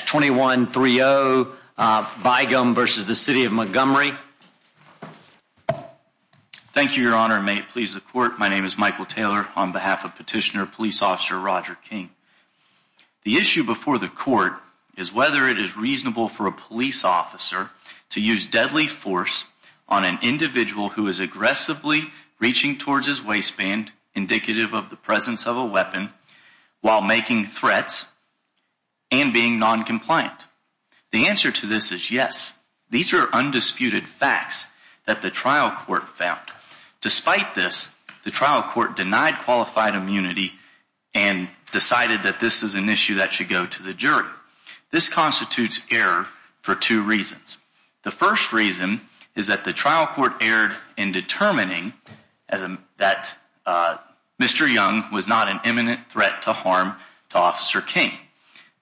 Thank you, Your Honor. May it please the Court, my name is Michael Taylor on behalf of Petitioner Police Officer Roger King. The issue before the Court is whether it is reasonable for a police officer to use deadly force on an individual who is aggressively reaching towards his waistband, indicative of the presence of a weapon, while making threats and being noncompliant. The answer to this is yes. These are undisputed facts that the trial court found. Despite this, the trial court denied qualified immunity and decided that this is an issue that should go to the jury. This constitutes error for two reasons. The first reason is that the trial court erred in determining that Mr. Young was not an imminent threat to harm to Officer King.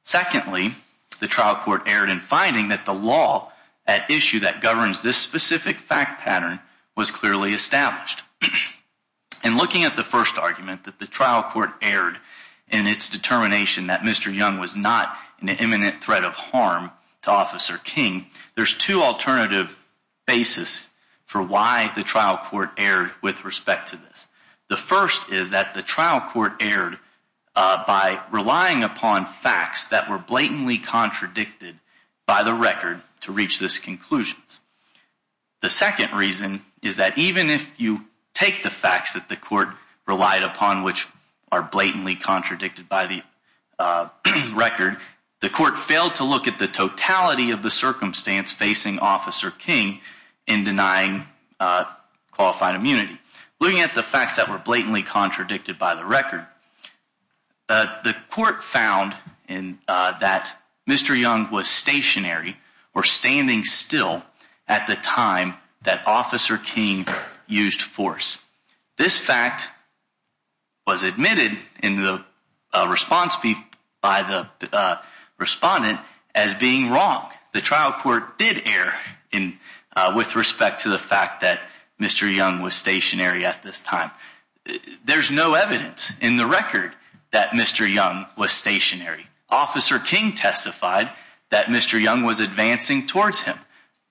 Secondly, the trial court erred in finding that the law at issue that governs this specific fact pattern was clearly established. In looking at the first argument that the trial court erred in its determination that Mr. Young was not an imminent threat of harm to Officer King, there's two alternative basis for why the trial court erred with respect to this. The first is that the trial court erred by relying upon facts that were blatantly contradicted by the record to reach this conclusion. The second reason is that even if you take the facts that the court relied upon, which are blatantly contradicted by the record, the court failed to look at the totality of the circumstance facing Officer King in denying qualified immunity. Looking at the facts that were blatantly contradicted by the record, the court found that Mr. Young was stationary or standing still at the time that Officer King used force. This fact was admitted in the response by the respondent as being wrong. The trial court did err with respect to the fact that Mr. Young was stationary at this time. There's no evidence in the record that Mr. Young was stationary. Officer King testified that Mr. Young was advancing towards him.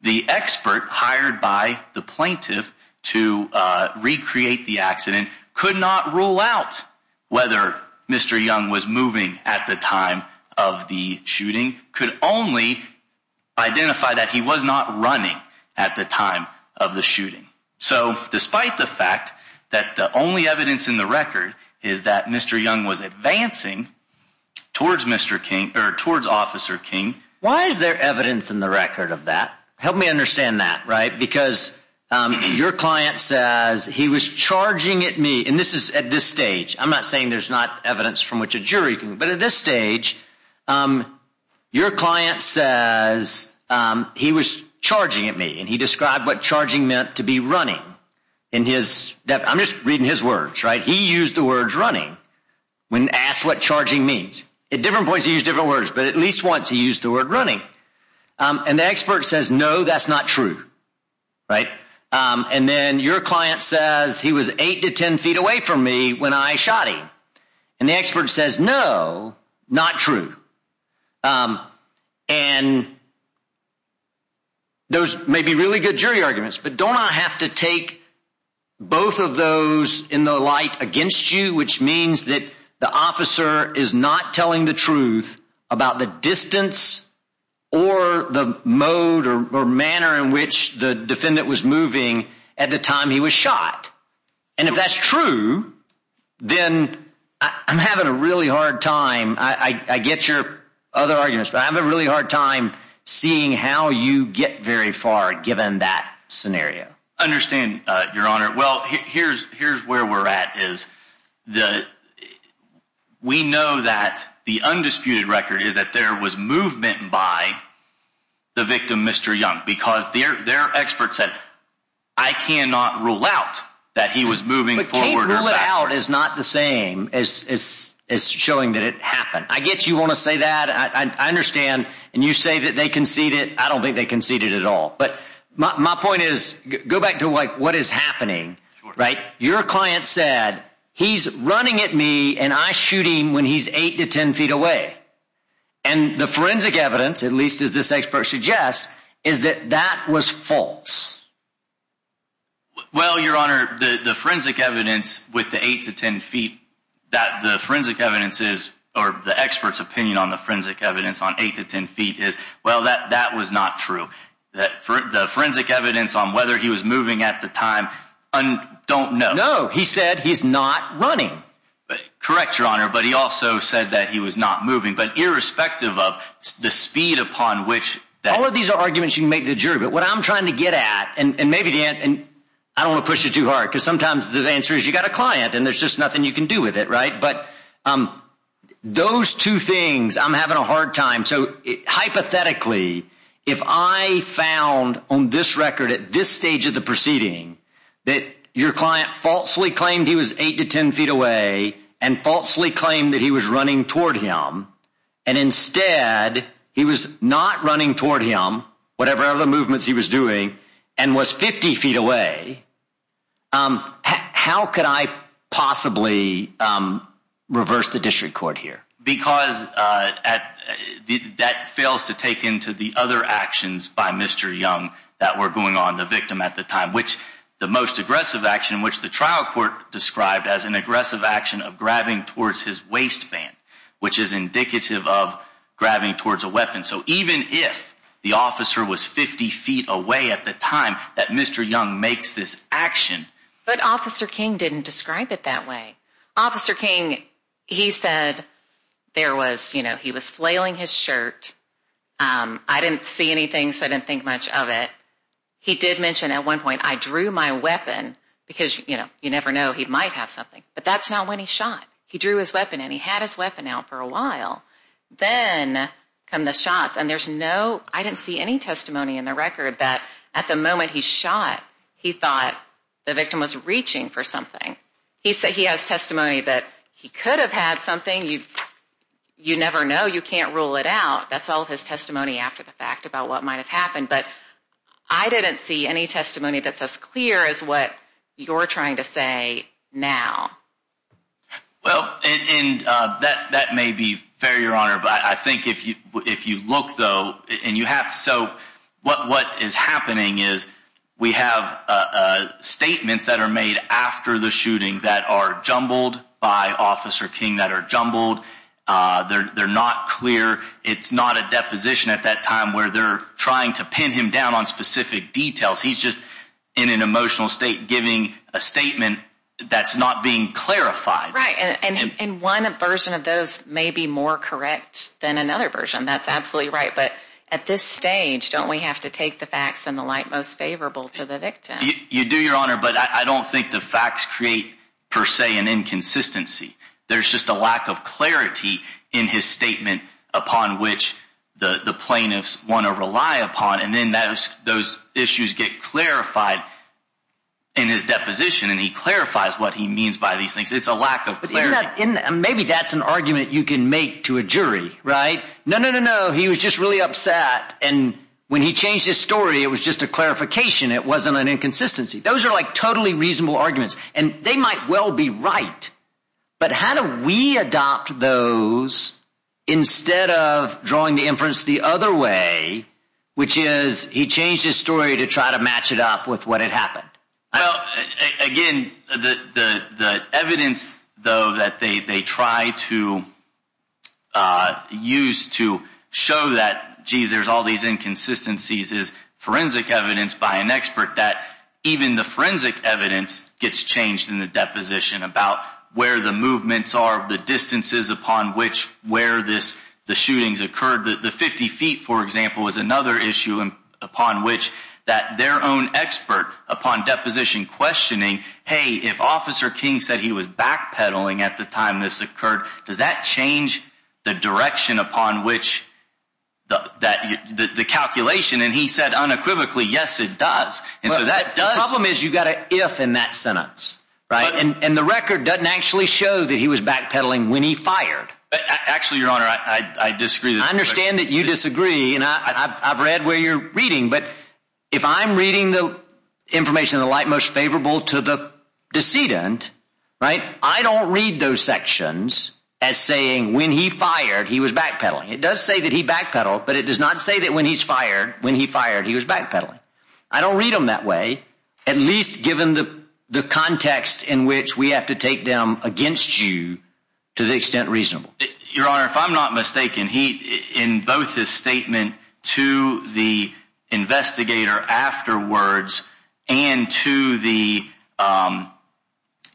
The expert hired by the plaintiff to recreate the accident could not rule out whether Mr. Young was moving at the time of the shooting, could only identify that he was not running at the time of the shooting. So despite the fact that the only evidence in the record is that Mr. Young was advancing towards Mr. Officer King, why is there evidence in the record of that? Help me understand that, right? Because your client says he was charging at me, and this is at this stage. I'm not saying there's not evidence from which a jury can, but at this stage, your client says he was charging at me and he described what charging meant to be running in his, I'm just reading his words, right? He used the words running when asked what charging means. At different points, he used different words, but at least once he used the word running. And the expert says, no, that's not true, right? And then your client says he was eight to 10 feet away from me when I shot him. And the expert says, no, not true. And those may be really good jury arguments, but don't I have to take both of those in the light against you, which means that the officer is not telling the truth about the distance or the mode or manner in which the defendant was moving at the time he was shot. And if that's true, then I'm having a really hard time. I get your other arguments, but I have a hard time seeing how you get very far given that scenario. I understand, your honor. Well, here's where we're at is that we know that the undisputed record is that there was movement by the victim, Mr. Young, because their expert said, I cannot rule out that he was moving forward or backward. But can't rule it out is not the same as showing that it happened. I get you want to say that. I understand. And you say that they concede it. I don't think they conceded at all. But my point is, go back to what is happening, right? Your client said he's running at me and I shooting when he's eight to 10 feet away. And the forensic evidence, at least as this expert suggests, is that that was false. Well, your honor, the forensic evidence with the eight to 10 feet that the forensic evidence is or the expert's opinion on the forensic evidence on eight to 10 feet is, well, that that was not true. That for the forensic evidence on whether he was moving at the time, I don't know. No, he said he's not running. But correct your honor. But he also said that he was not moving. But irrespective of the speed upon which all of these arguments you make the jury. But what I'm trying to get at and maybe the end and I don't push it too hard because sometimes the answer is you got a client and there's just nothing you can do with it. Right. But those two things, I'm having a hard time. So hypothetically, if I found on this record at this stage of the proceeding that your client falsely claimed he was eight to 10 feet away and falsely claimed that he was running toward him and instead he was not running toward him, whatever the movements he was doing and was 50 feet away. How could I possibly reverse the district court here? Because that fails to take into the other actions by Mr. Young that were going on the victim at the time, which the most aggressive action in which the trial court described as an aggressive action of grabbing towards his waistband, which is indicative of 50 feet away at the time that Mr. Young makes this action. But Officer King didn't describe it that way. Officer King, he said there was he was flailing his shirt. I didn't see anything, so I didn't think much of it. He did mention at one point I drew my weapon because you never know he might have something. But that's not when he shot. He drew his weapon and he had his weapon out for a while. Then come the shots and there's no, I didn't see any testimony in the record that at the moment he shot, he thought the victim was reaching for something. He said he has testimony that he could have had something. You never know. You can't rule it out. That's all his testimony after the fact about what might have happened. But I didn't see any testimony that's as clear as what you're trying to say now. Well, and that that may be fair, Your Honor. But I think if you if you look, though, and you have so what what is happening is we have statements that are made after the shooting that are jumbled by Officer King that are jumbled. They're not clear. It's not a deposition at that time where they're trying to pin him down on specific details. He's just in an emotional state giving a statement that's not being clarified. Right. And in one version of those may be more correct than another version. That's absolutely right. But at this stage, don't we have to take the facts and the light most favorable to the victim? You do, Your Honor. But I don't think the facts create per se an inconsistency. There's just a lack of clarity in his statement upon which the plaintiffs want to rely upon. And then those those issues get clarified in his deposition. And he clarifies what he means by these things. It's a lack of clarity. Maybe that's an argument you can make to a jury. Right. No, no, no, no. He was just really upset. And when he changed his story, it was just a clarification. It wasn't an inconsistency. Those are like totally reasonable arguments and they might well be right. But how do we adopt those instead of drawing the inference the other way, which is he changed his story to try to match it up with what had happened? Again, the evidence, though, that they try to use to show that, geez, there's all these inconsistencies is forensic evidence by an expert that even the forensic evidence gets changed in the deposition about where the movements are, the distances upon which where this the shootings occurred. The 50 feet, for example, is another issue upon which that their own expert upon deposition questioning, hey, if Officer King said he was backpedaling at the time this occurred, does that change the direction upon which that the calculation? And he said unequivocally, yes, it does. And so that problem is you got to if in that sentence. Right. And the record doesn't actually show that he was backpedaling when he fired. Actually, your honor, I disagree. I understand that you disagree. And I've read where you're reading. But if I'm reading the information, the light most favorable to the decedent. Right. I don't read those sections. As saying when he fired, he was backpedaling. It does say that he backpedaled, but it does not say that when he's fired, when he fired, he was backpedaling. I don't read them that way, at least given the the context in which we have to take them against you to the extent reasonable. Your honor, if I'm not mistaken, he in both his statement to the investigator afterwards and to the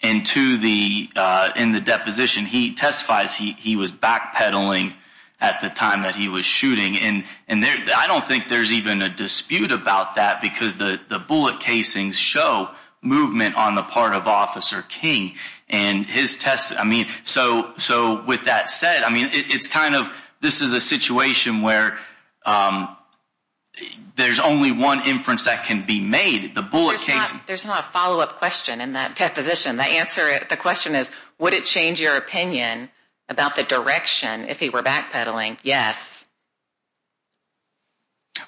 and to the in the deposition, he testifies he was backpedaling at the time that he was shooting. And and I don't think there's even a dispute about that because the bullet casings show movement on the part of Officer King and his test. I mean, so so with that said, I mean, it's kind of this is a situation where there's only one inference that can be made. The bullet case. There's not a follow up question in that position. The answer. The question is, would it change your opinion about the direction if he were backpedaling? Yes.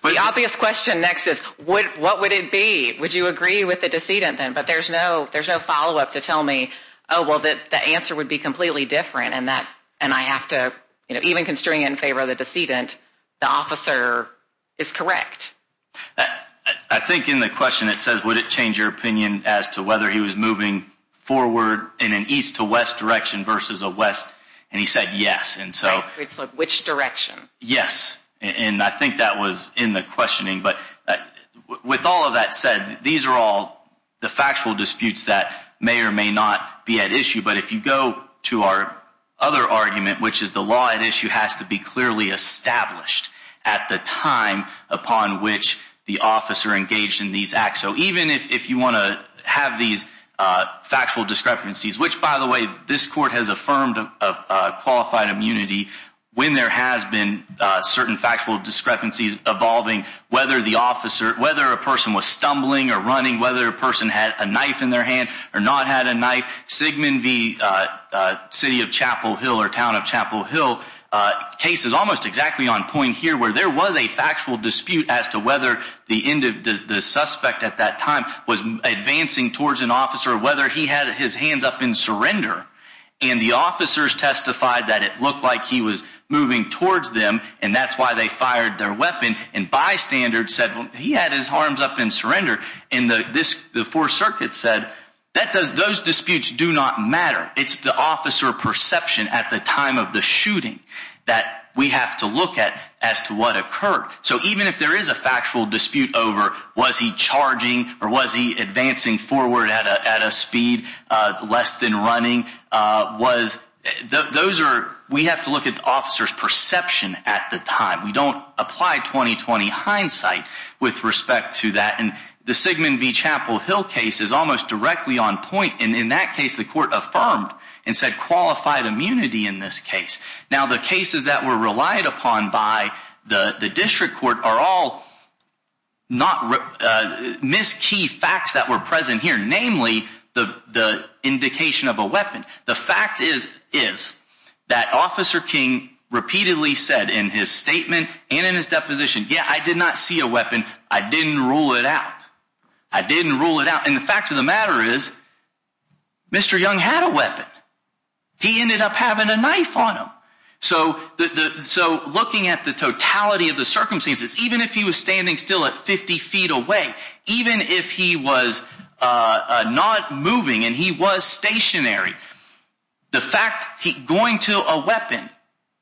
But the obvious question next is what what would it be? Would you agree with the decedent then? But there's no there's no follow up to tell me. Oh, well, the answer would be completely different and that and I have to even constrain in favor of the decedent. The officer is correct. But I think in the question, it says, would it change your opinion as to whether he was moving forward in an east to west direction versus a west? And he said yes. And so it's like which direction? Yes. And I think that was in the questioning. But with all of that said, these are all the factual disputes that may or may not be at issue. But if you go to our other argument, which is the law at issue has to be clearly established at the time upon which the officer engaged in these acts. So even if you want to have these factual discrepancies, which, by the way, this court has affirmed of qualified immunity when there has been certain factual discrepancies evolving, whether the officer, whether a person was stumbling or or town of Chapel Hill case is almost exactly on point here where there was a factual dispute as to whether the end of the suspect at that time was advancing towards an officer, whether he had his hands up in surrender and the officers testified that it looked like he was moving towards them. And that's why they fired their weapon. And bystanders said he had his arms up in surrender in this. The Fourth Circuit said that does those disputes do not matter. It's the officer perception at the time of the shooting that we have to look at as to what occurred. So even if there is a factual dispute over was he charging or was he advancing forward at a speed less than running was, those are we have to look at the officer's perception at the time. We don't apply 2020 hindsight with respect to that. And the Sigman v. Chapel Hill case is almost directly on point. And in that case, the court affirmed and said qualified immunity in this case. Now, the cases that were relied upon by the district court are all not miss key facts that were present here, namely the indication of a weapon. The fact is, is that Officer King repeatedly said in his statement and in his deposition, yeah, I did not see a weapon. I didn't rule it out. I didn't rule it out. And the fact of the matter is Mr. Young had a weapon. He ended up having a knife on him. So so looking at the totality of the circumstances, even if he was standing still at 50 feet away, even if he was not moving and he was stationary, the fact he going to a weapon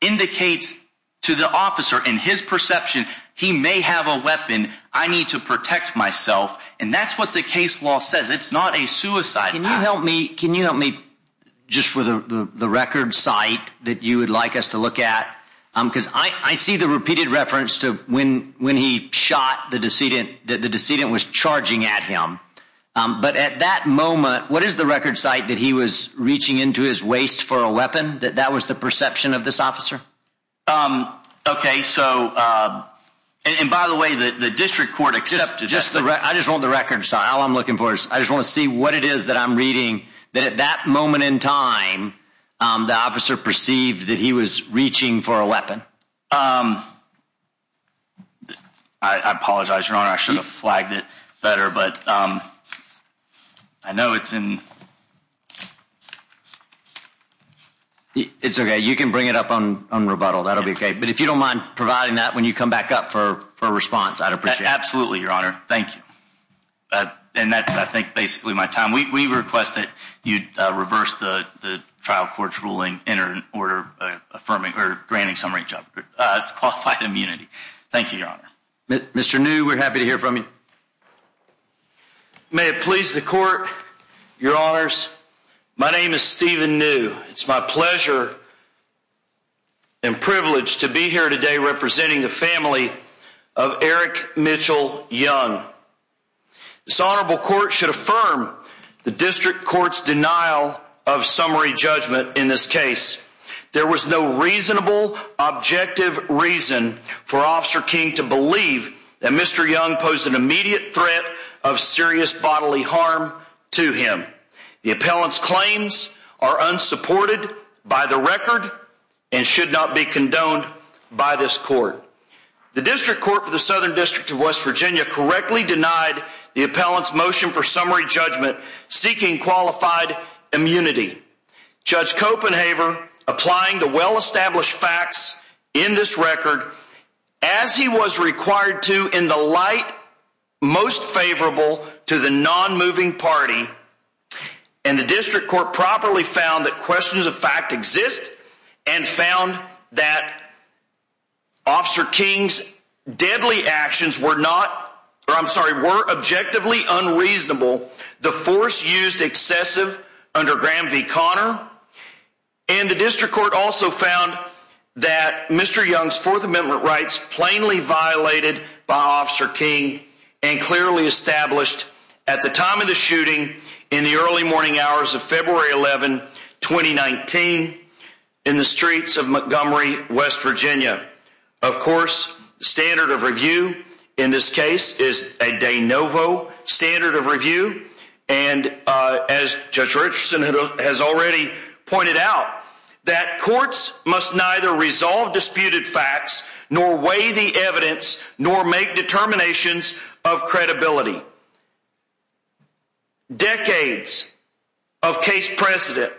indicates to the officer in his perception he may have a weapon. I need to protect myself. And that's what the case law says. It's not a suicide. Can you help me? Can you help me just for the record site that you would like us to look at? Because I see the repeated reference to when when he shot the decedent that the decedent was charging at him. But at that moment, what is the record site that he was reaching into his waist for a weapon that that was the perception of this officer? OK, so and by the way, the district court accepted just the right. I just want the record. So all I'm looking for is I just want to see what it is that I'm reading that at that moment in time, the officer perceived that he was reaching for a weapon. I apologize, your honor, I should have flagged it better, but I know it's in. It's OK, you can bring it up on on rebuttal, that'll be OK. But if you don't mind providing that when you come back up for a response, I'd appreciate absolutely your honor. Thank you. And that's I think basically my time. We request that you'd reverse the trial court's ruling in an order affirming or granting some reach up qualified immunity. Thank you, your honor. Mr. New, we're happy to hear from you. May it please the court, your honors. My name is Stephen New. It's my pleasure. And privileged to be here today representing the family of Eric Mitchell Young. This honorable court should affirm the district court's denial of summary judgment. In this case, there was no reasonable objective reason for Officer King to believe that Mr. Young posed an immediate threat of serious bodily harm to him. The appellant's claims are unsupported by the record and should not be condoned by this court. The district court for the Southern District of West Virginia correctly denied the appellant's motion for summary judgment seeking qualified immunity. Judge Copenhaver, applying the well-established facts in this record as he was required to in the light most favorable to the non-moving party and the district court properly found that questions of fact exist and found that Officer King's deadly actions were not or I'm sorry were objectively unreasonable. The force used excessive under Graham v. Connor and the district court also found that Mr. Young's Fourth Amendment rights plainly violated by Officer King and clearly established at the time of the shooting in the early morning hours of February 11, 2019 in the streets of Montgomery, West Virginia. Of course, the standard of review in this case is a de novo standard of review and as Judge Richardson has already pointed out that courts must neither resolve disputed facts nor weigh the evidence nor make determinations of credibility. Decades of case precedent,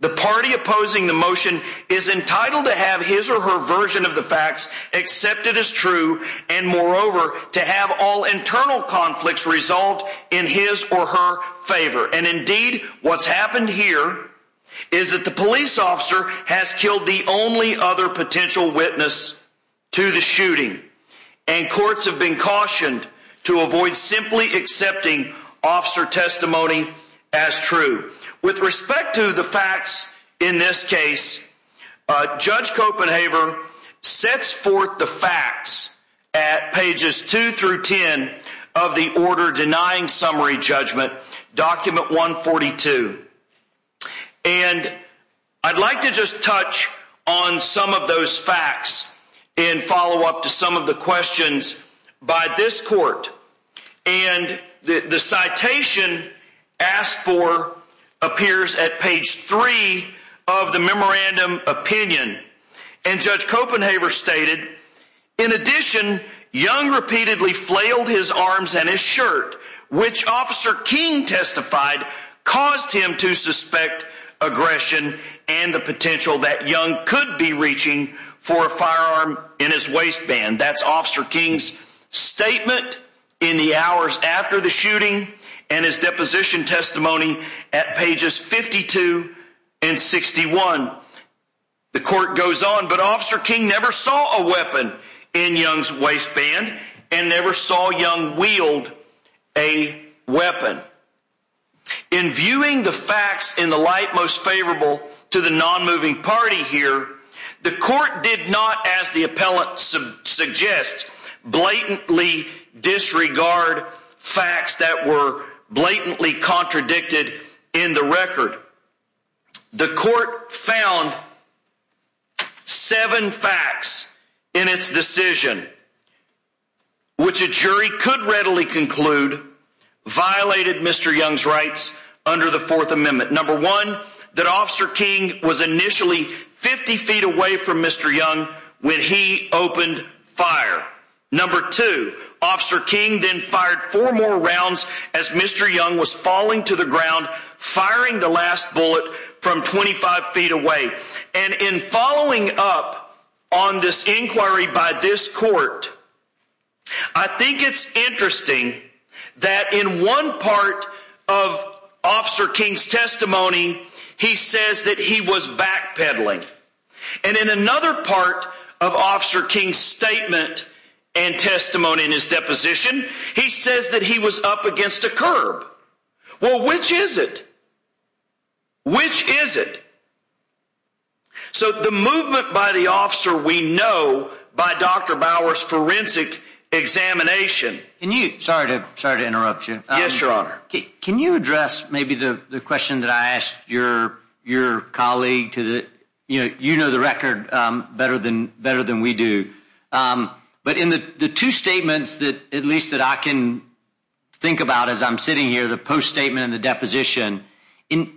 the party opposing the motion is entitled to have his or her version of the facts accepted as true and moreover to have all internal conflicts resolved in his or her favor and indeed what's happened here is that the police officer has killed the only other potential witness to the shooting and courts have been cautioned to avoid simply accepting officer testimony as true. With respect to the facts in this case, Judge Copenhaver sets forth the facts at pages 2 through 10 of the order denying summary judgment document 142 and I'd like to just touch on some of those facts in follow-up to some of the questions by this court and the citation asked for appears at page 3 of the memorandum opinion and Judge Copenhaver stated in addition Young repeatedly flailed his arms and his shirt which Officer King testified caused him to suspect aggression and the potential that Young could be reaching for a firearm in his waistband. That's Officer King's statement in the hours after the shooting and his deposition testimony at pages 52 and 61. The court goes on but Officer King never saw a weapon in Young's waistband and never saw Young wield a weapon. In viewing the facts in the light most favorable to the non-moving party here the court did not as the appellant suggests blatantly disregard facts that were blatantly could readily conclude violated Mr. Young's rights under the fourth amendment. Number one that Officer King was initially 50 feet away from Mr. Young when he opened fire. Number two Officer King then fired four more rounds as Mr. Young was falling to the ground firing the last It's interesting that in one part of Officer King's testimony he says that he was backpedaling and in another part of Officer King's statement and testimony in his deposition he says that he was up against a curb. Well which is it? Which is it? So the movement by the officer we know by Dr. Bowers forensic examination. Can you, sorry to interrupt you, yes your honor, can you address maybe the the question that I asked your your colleague to the you know you know the record better than better than we do but in the the two statements that at least that I can think about as I'm sitting here the post statement and the deposition in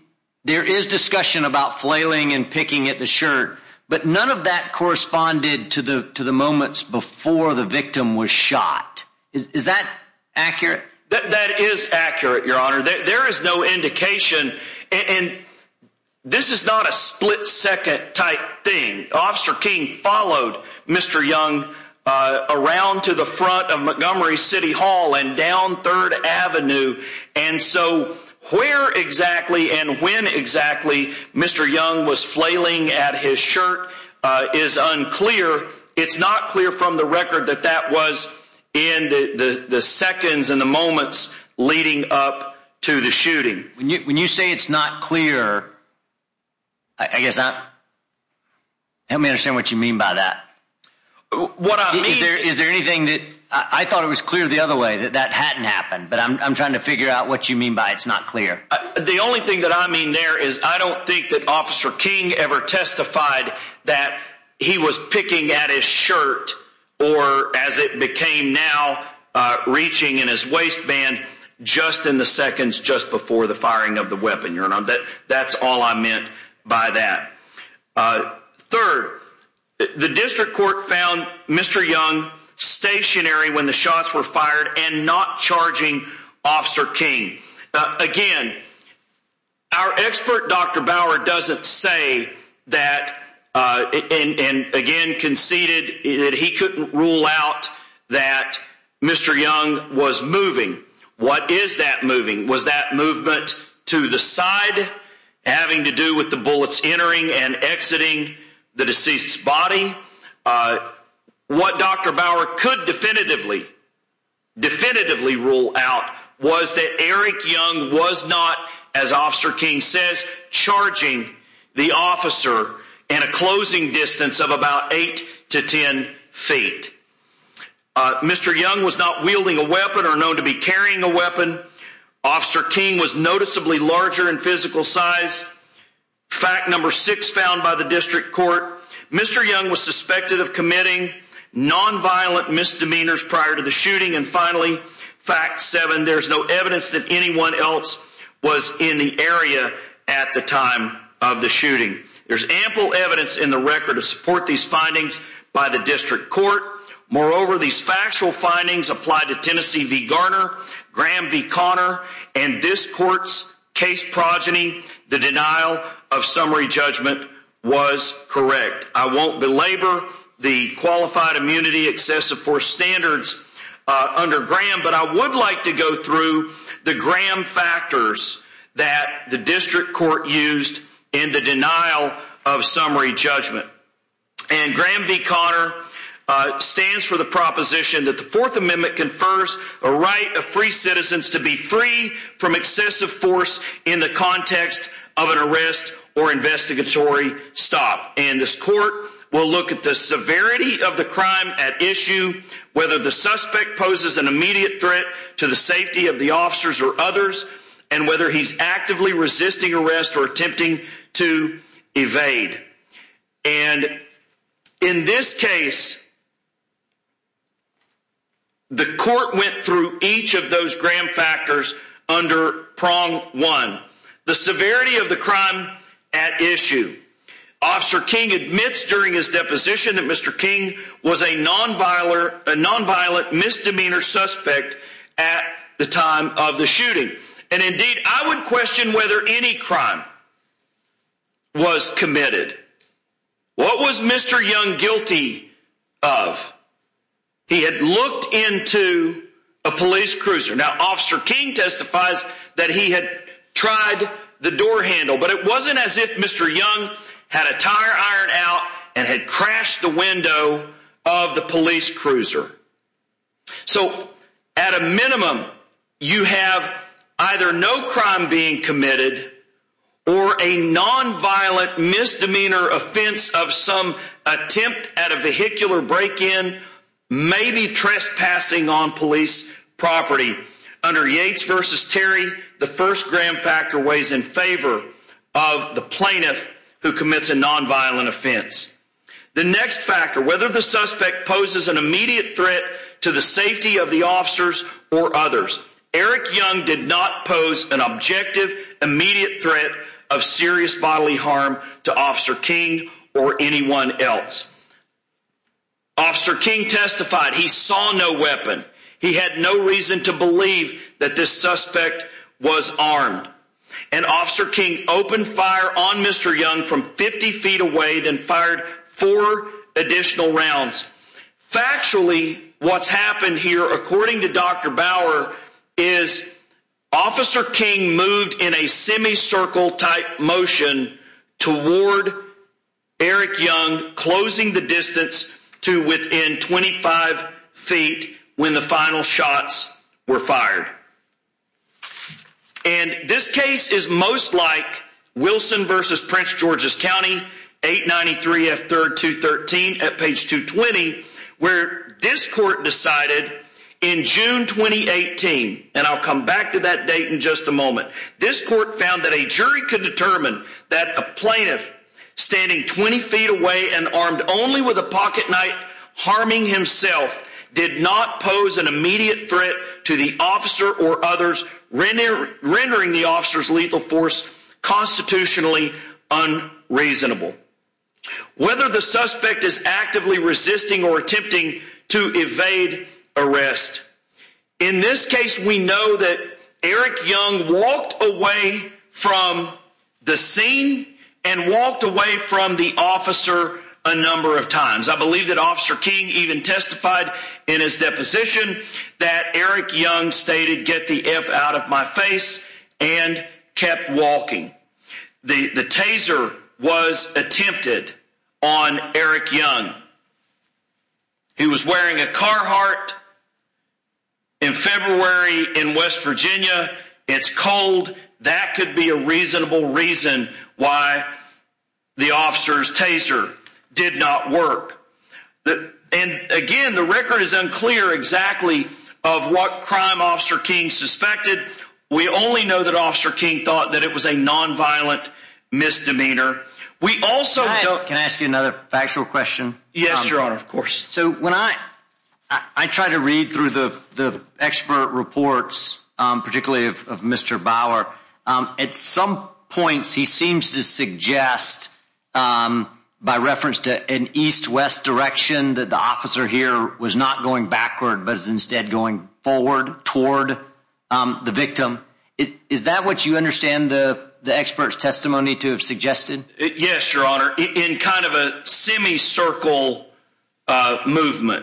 there is discussion about flailing and picking at the shirt but none of that corresponded to the moments before the victim was shot. Is that accurate? That is accurate your honor. There is no indication and this is not a split second type thing. Officer King followed Mr. Young around to the front of Montgomery City Hall and down 3rd Avenue and so where exactly and when exactly Mr. Young was flailing at his shirt is unclear. It's not clear from the record that that was in the the seconds and the moments leading up to the shooting. When you when you say it's not clear I guess not help me understand what you mean by that. What I mean is there is there anything that I thought it was clear the other way that that hadn't happened but I'm trying to figure out what you mean by it's not clear. The only thing that I mean there is I don't think that Officer King ever testified that he was picking at his shirt or as it became now uh reaching in his waistband just in the seconds just before the firing of the weapon your honor that that's all I meant by that. Uh third the district court found Mr. Young stationary when the shots were fired and not charging Officer King. Again our expert Dr. Bauer doesn't say that uh and again conceded that he couldn't rule out that Mr. Young was moving. What is that moving? Was that movement to the side having to do with the bullets entering and exiting the deceased's body? Uh what Dr. Bauer could definitively definitively rule out was that Eric Young was not as Officer King says charging the officer in a closing distance of about eight to ten feet. Uh Mr. Young was not wielding a weapon or known to be carrying a weapon. Officer King was noticeably larger in physical size. Fact number six found by the district court Mr. Young was suspected of committing non-violent misdemeanors prior to the shooting. And finally fact seven there's no evidence that anyone else was in the area at the time of the shooting. There's ample evidence in the record to support these findings by the district court. Moreover these factual findings apply to Tennessee v. Garner, Graham v. Conner and this court's case progeny the denial of summary judgment was correct. I won't belabor the qualified immunity excessive force standards under Graham but I would like to go through the Graham factors that the district court used in the a right of free citizens to be free from excessive force in the context of an arrest or investigatory stop. And this court will look at the severity of the crime at issue whether the suspect poses an immediate threat to the safety of the officers or others and whether he's actively resisting arrest or attempting to evade. And in this case the court went through each of those Graham factors under prong one the severity of the crime at issue. Officer King admits during his deposition that Mr. King was a non-violent misdemeanor suspect at the time of the shooting and indeed I would question whether any crime was committed. What was Mr. Young guilty of? He had looked into a police cruiser. Now officer King testifies that he had tried the door handle but it wasn't as if Mr. Young had a tire ironed out and had crashed the window of the police cruiser. So at a minimum you have either no crime being committed or a non-violent misdemeanor offense of some attempt at a vehicular break-in maybe trespassing on police property. Under Yates versus Terry the first Graham factor weighs in favor of the plaintiff who commits a non-violent offense. The next factor whether the suspect poses an immediate threat to the safety of the officers or others. Eric Young did not pose an objective immediate threat of serious bodily harm to Officer King or anyone else. Officer King testified he saw no weapon. He had no reason to believe that this suspect was armed and Officer King opened fire on Mr. Young from 50 feet away then fired four additional rounds. Factually what's happened here according to Dr. Bauer is Officer King moved in a semi-circle type motion toward Eric Young closing the distance to within 25 feet when the final shots were fired. And this case is most like Wilson versus Prince George's County 893 F 3rd 213 at page 220 where this court decided in June 2018 and I'll come back to that date in just a moment this court found that a jury could determine that a plaintiff standing 20 feet away and armed only with a or others rendering the officer's lethal force constitutionally unreasonable. Whether the suspect is actively resisting or attempting to evade arrest. In this case we know that Eric Young walked away from the scene and walked away from the officer a number of times. I believe that my face and kept walking. The taser was attempted on Eric Young. He was wearing a Carhartt in February in West Virginia. It's cold that could be a reasonable reason why the officer's taser did not work. And again the record is unclear exactly of what crime Officer King suspected. We only know that Officer King thought that it was a non-violent misdemeanor. Can I ask you another factual question? Yes your honor of course. So when I try to read through the expert reports particularly of Mr. Bauer at some points he seems to suggest by reference to an east-west direction that the officer here was not going backward but is instead going forward toward the victim. Is that what you understand the expert's testimony to have suggested? Yes your honor in kind of a that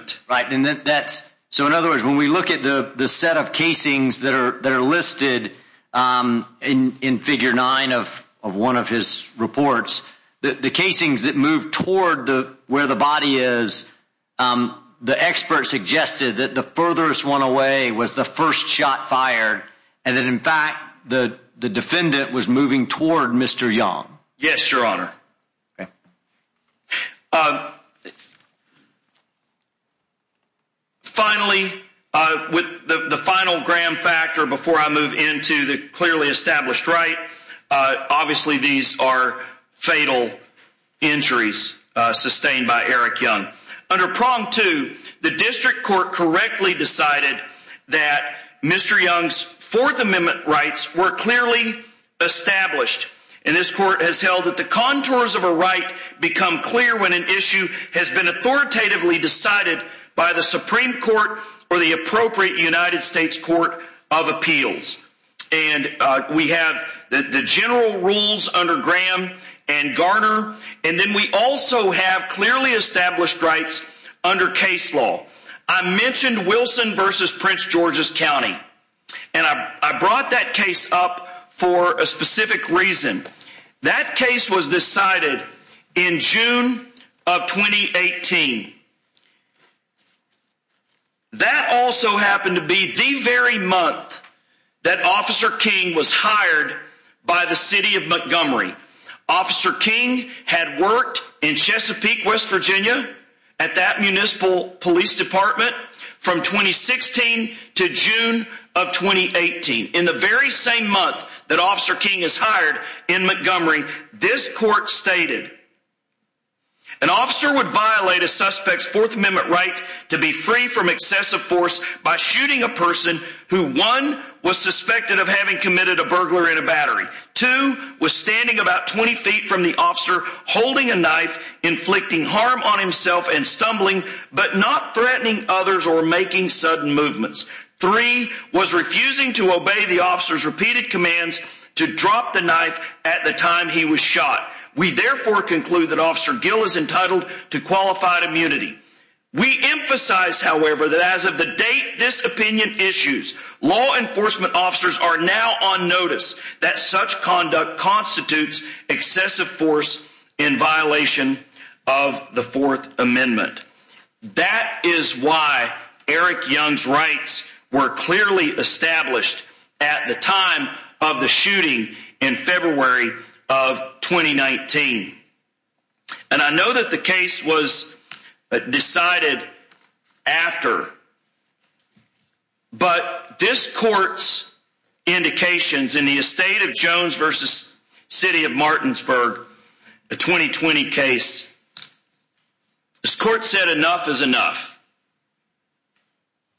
are listed in in figure nine of of one of his reports that the casings that move toward the where the body is the expert suggested that the furthest one away was the first shot fired and that in fact the the defendant was moving toward Mr. Young. Yes your honor. Okay uh finally uh with the the final gram factor before I move into the clearly established right uh obviously these are fatal injuries uh sustained by Eric Young. Under prong two the district court correctly decided that Mr. Young's fourth amendment rights were clearly established and this court has held that the contours of a right become clear when an issue has been authoritatively decided by the supreme court or the appropriate United States court of appeals and we have the general rules under Graham and Garner and then we also have clearly established rights under case law. I mentioned Wilson versus Prince George's County and I brought that case up for a specific reason. That case was decided in June of 2018. That also happened to be the very month that Officer King was hired by the city of Montgomery. Officer King had worked in Chesapeake, West Virginia at that municipal police department from 2016 to June of 2018. In the very same month that Officer King is hired in Montgomery this court stated an officer would violate a suspect's fourth amendment right to be free from excessive force by shooting a person who one was suspected of having committed a burglar in a battery two was standing about 20 feet from the officer holding a knife inflicting harm on himself and stumbling but not threatening others or making sudden movements three was refusing to obey the officer's repeated commands to drop the knife at the time he was shot. We therefore conclude that Officer Gill is entitled to qualified immunity. We emphasize however that as of the date this opinion issues law enforcement officers are now on notice that such conduct constitutes excessive force in violation of the fourth amendment. That is why Eric Young's rights were clearly established at the time of the shooting in February of 2019. And I know that the case was decided after but this court's city of Martinsburg a 2020 case this court said enough is enough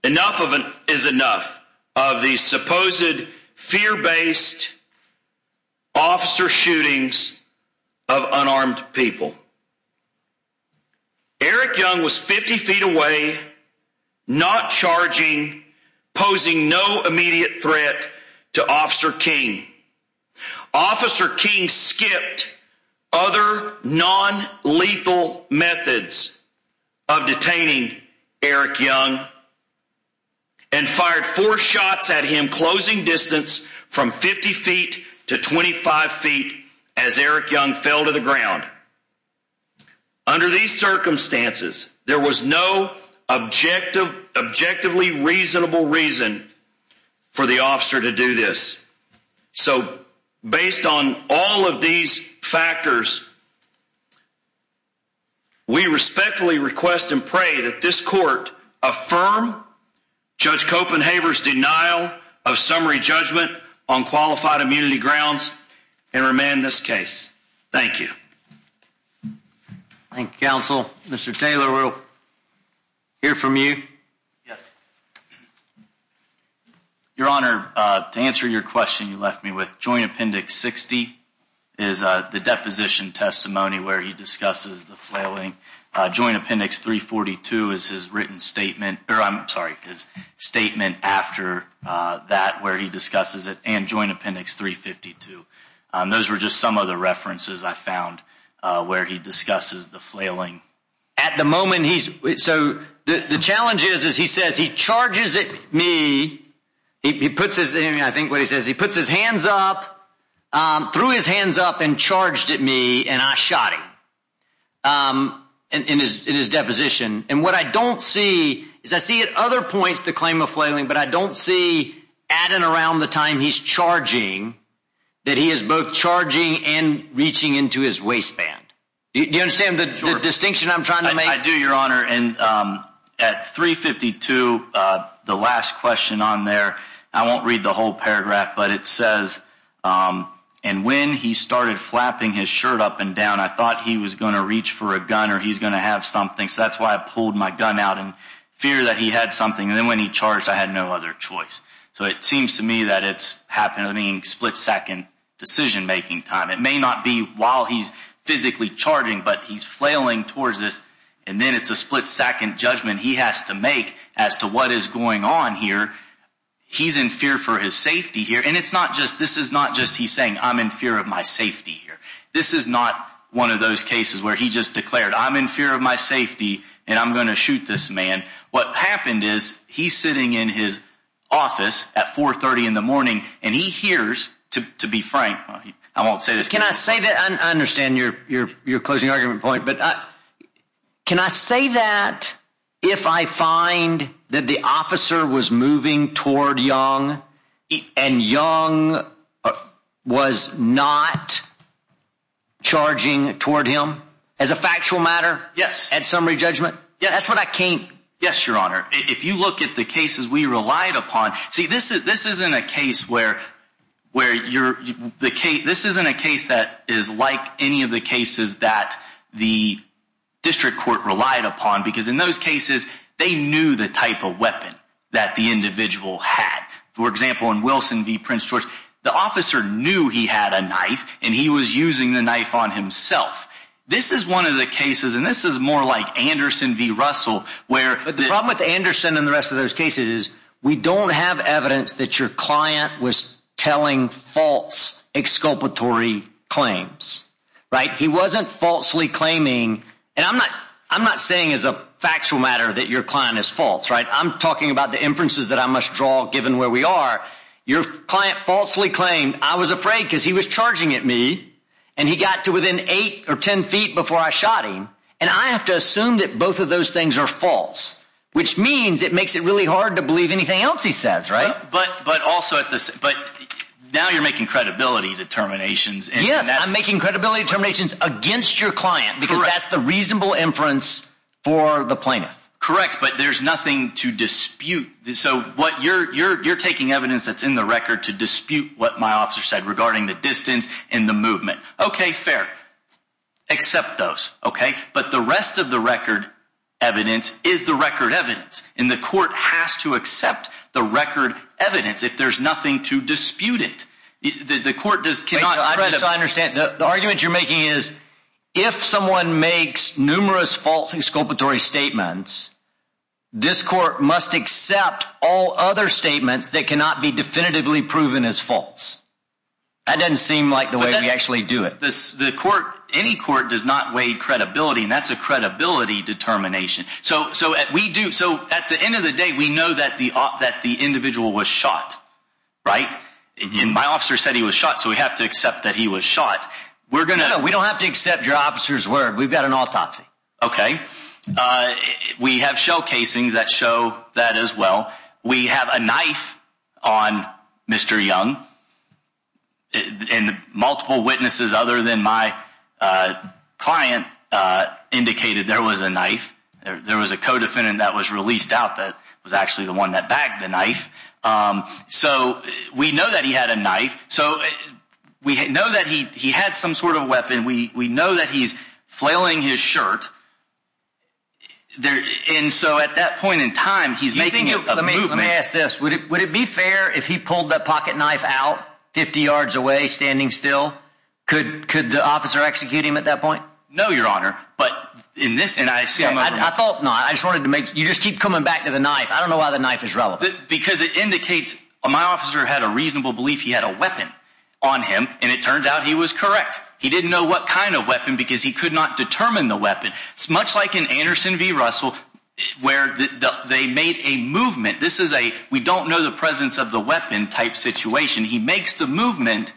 enough of an is enough of the supposed fear-based officer shootings of unarmed people. Eric Young was 50 feet away not charging posing no immediate threat to Officer King. Officer King skipped other non-lethal methods of detaining Eric Young and fired four shots at him closing distance from 50 feet to 25 feet as Eric Young fell to the ground. Under these circumstances there was no objective objectively reasonable reason for the officer to do this. So based on all of these factors we respectfully request and pray that this court affirm Judge Copenhaver's denial of summary judgment on qualified immunity grounds and remand this case. Thank you. Thank you counsel. Mr. Taylor we'll hear from you. Yes. Your honor to answer your question you left me with joint appendix 60 is the deposition testimony where he discusses the flailing joint appendix 342 is his written statement or I'm sorry his statement after that where he discusses it and joint appendix 352. Those were just some of the references I found where he discusses the flailing. At the moment he's so the challenge is as he says he charges at me he puts his I think what he says he puts his hands up threw his hands up and charged at me and I shot him in his in his deposition and what I don't see is I see at other points the claim of flailing but I don't see at and around the time he's charging that he is both charging and reaching into his waistband. Do you understand the distinction I'm trying to make? I do your honor and at 352 the last question on there I won't read the whole paragraph but it says and when he started flapping his shirt up and down I thought he was going to reach for a gun or he's going to have something so that's why I pulled my gun out in fear that he had something and then when he charged I had no other choice so it seems to me that it's happening split second decision making time it may not be while he's physically charging but he's flailing towards this and then it's a split second judgment he has to make as to what is going on here he's in fear for his safety here and it's not just this is not just he's saying I'm in fear of my safety here this is not one of those cases where he just declared I'm in fear of my safety and I'm going to shoot this man what happened is he's sitting in his office at 4 30 in the morning and he hears to to be frank I won't say this can I say that I understand your your your closing argument point but I can I say that if I find that the officer was moving toward young and young was not charging toward him as a factual matter yes at summary judgment yeah that's what I can't yes your honor if you look at the cases we relied upon see this is this isn't a case where where you're the case this isn't a case that is like any of the cases that the district court relied upon because in those cases they knew the type of weapon that the individual had for example in Wilson v Prince George the officer knew he had a knife and he was using the knife on himself this is one of the cases and this is more like Anderson v Russell where but the problem with Anderson and the rest of those cases is we don't have evidence that your client was telling false exculpatory claims right he wasn't falsely claiming and I'm not I'm not saying as a factual matter that your client is false right I'm talking about the inferences that I must draw given where we are your client falsely claimed I was afraid because he was charging at me and he got to within eight or ten feet before I shot him and I have to assume that both of those things are false which means it makes it really hard to believe anything else he says right but but also at this but now you're making credibility determinations yes I'm making credibility determinations against your client because that's the reasonable inference for the plaintiff correct but there's nothing to dispute so what you're you're you're taking evidence that's in the record to dispute what my officer said regarding the distance and the movement okay fair accept those okay but the rest of the record evidence is the record evidence and the court has to accept the record evidence if there's nothing to dispute it the court does not understand the argument you're making is if someone makes numerous false exculpatory statements this court must accept all other statements that cannot be definitively proven as false that doesn't seem like the way we actually do it this the court any court does not weigh credibility and that's a credibility determination so so we do so at the end of the day we know that the op that the individual was shot right and my officer said he was shot so we have to accept that he was shot we're going to we don't have to accept your officer's word we've got an autopsy okay uh we have showcasings that show that as well we have a knife on mr young and multiple witnesses other than my uh client uh indicated there was a knife there was a co-defendant that was released out that was actually the one that bagged the knife um so we know that he had a knife so we know that he he had some sort of weapon we we know that he's flailing his shirt there and so at that point in time he's making it let me let me ask this would it would it be fair if he pulled that pocket knife out 50 yards away standing still could could the officer execute him at that point no your honor but in this and i see i thought no i just wanted to make you just keep coming back to the knife i don't know why the knife is relevant because it indicates my officer had a reasonable belief he had a weapon on him and it turns out he was correct he didn't know what kind of weapon because he could not determine the weapon it's much like in anderson v russell where they made a movement this is a we don't know the presence of the weapon type situation he makes the movement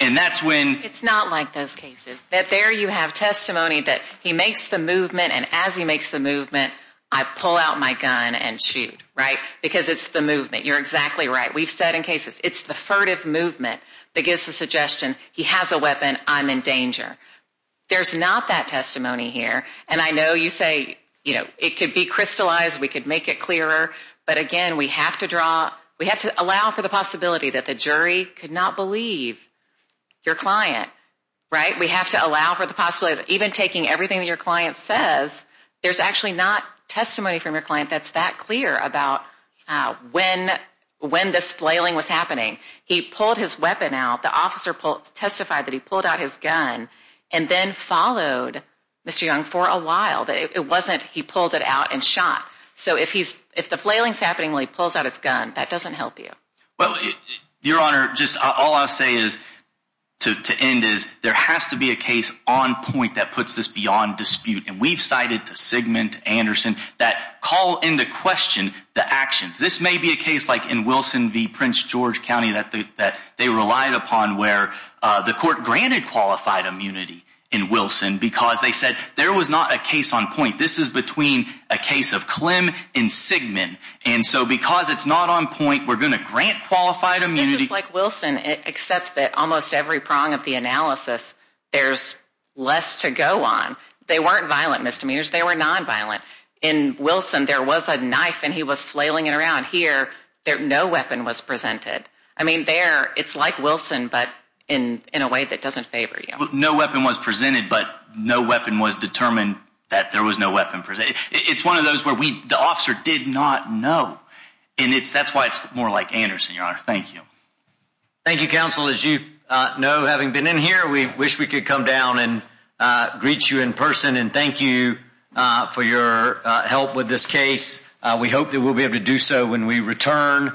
and that's when it's not like those cases that there you have testimony that he makes the movement and as he makes the movement i pull out my gun and shoot right because it's the movement you're exactly right we've said in cases it's the furtive movement that gives the suggestion he has a weapon i'm in danger there's not that testimony here and i know you say you know it could be crystallized we could make it clearer but again we have to draw we have to allow for the possibility that the jury could not believe your client right we have to allow for the possibility of even taking everything that your client says there's actually not testimony from your client that's that clear about uh when when this flailing was happening he pulled his weapon out the officer testified that he pulled out his gun and then followed mr young for a while that it wasn't he pulled it out and shot so if he's if the flailing's happening when he pulls out his gun that doesn't help you well your honor just all i'll say is to to end is there has to be a case on point that puts this beyond dispute and we've cited to segment anderson that call into question the actions this may be a case like in wilson v prince george county that that they relied upon where uh the court granted qualified immunity in wilson because they said there was not a case on point this is between a case of clem and sigmund and so because it's not on point we're going to grant qualified immunity like wilson except that almost every prong of the analysis there's less to go on they weren't violent misdemeanors they were non-violent in wilson there was a knife and he was flailing it around here there no weapon was presented i mean there it's like wilson but in in a way that doesn't favor you no weapon was presented but no weapon was determined that there was no weapon presented it's one of those where we the officer did not know and it's that's why it's more like anderson your honor thank you thank you counsel as you uh know having been in here we wish we could come down and uh greet you in person and thank you uh for your uh help with this case uh we hope that we'll be able to do so when we return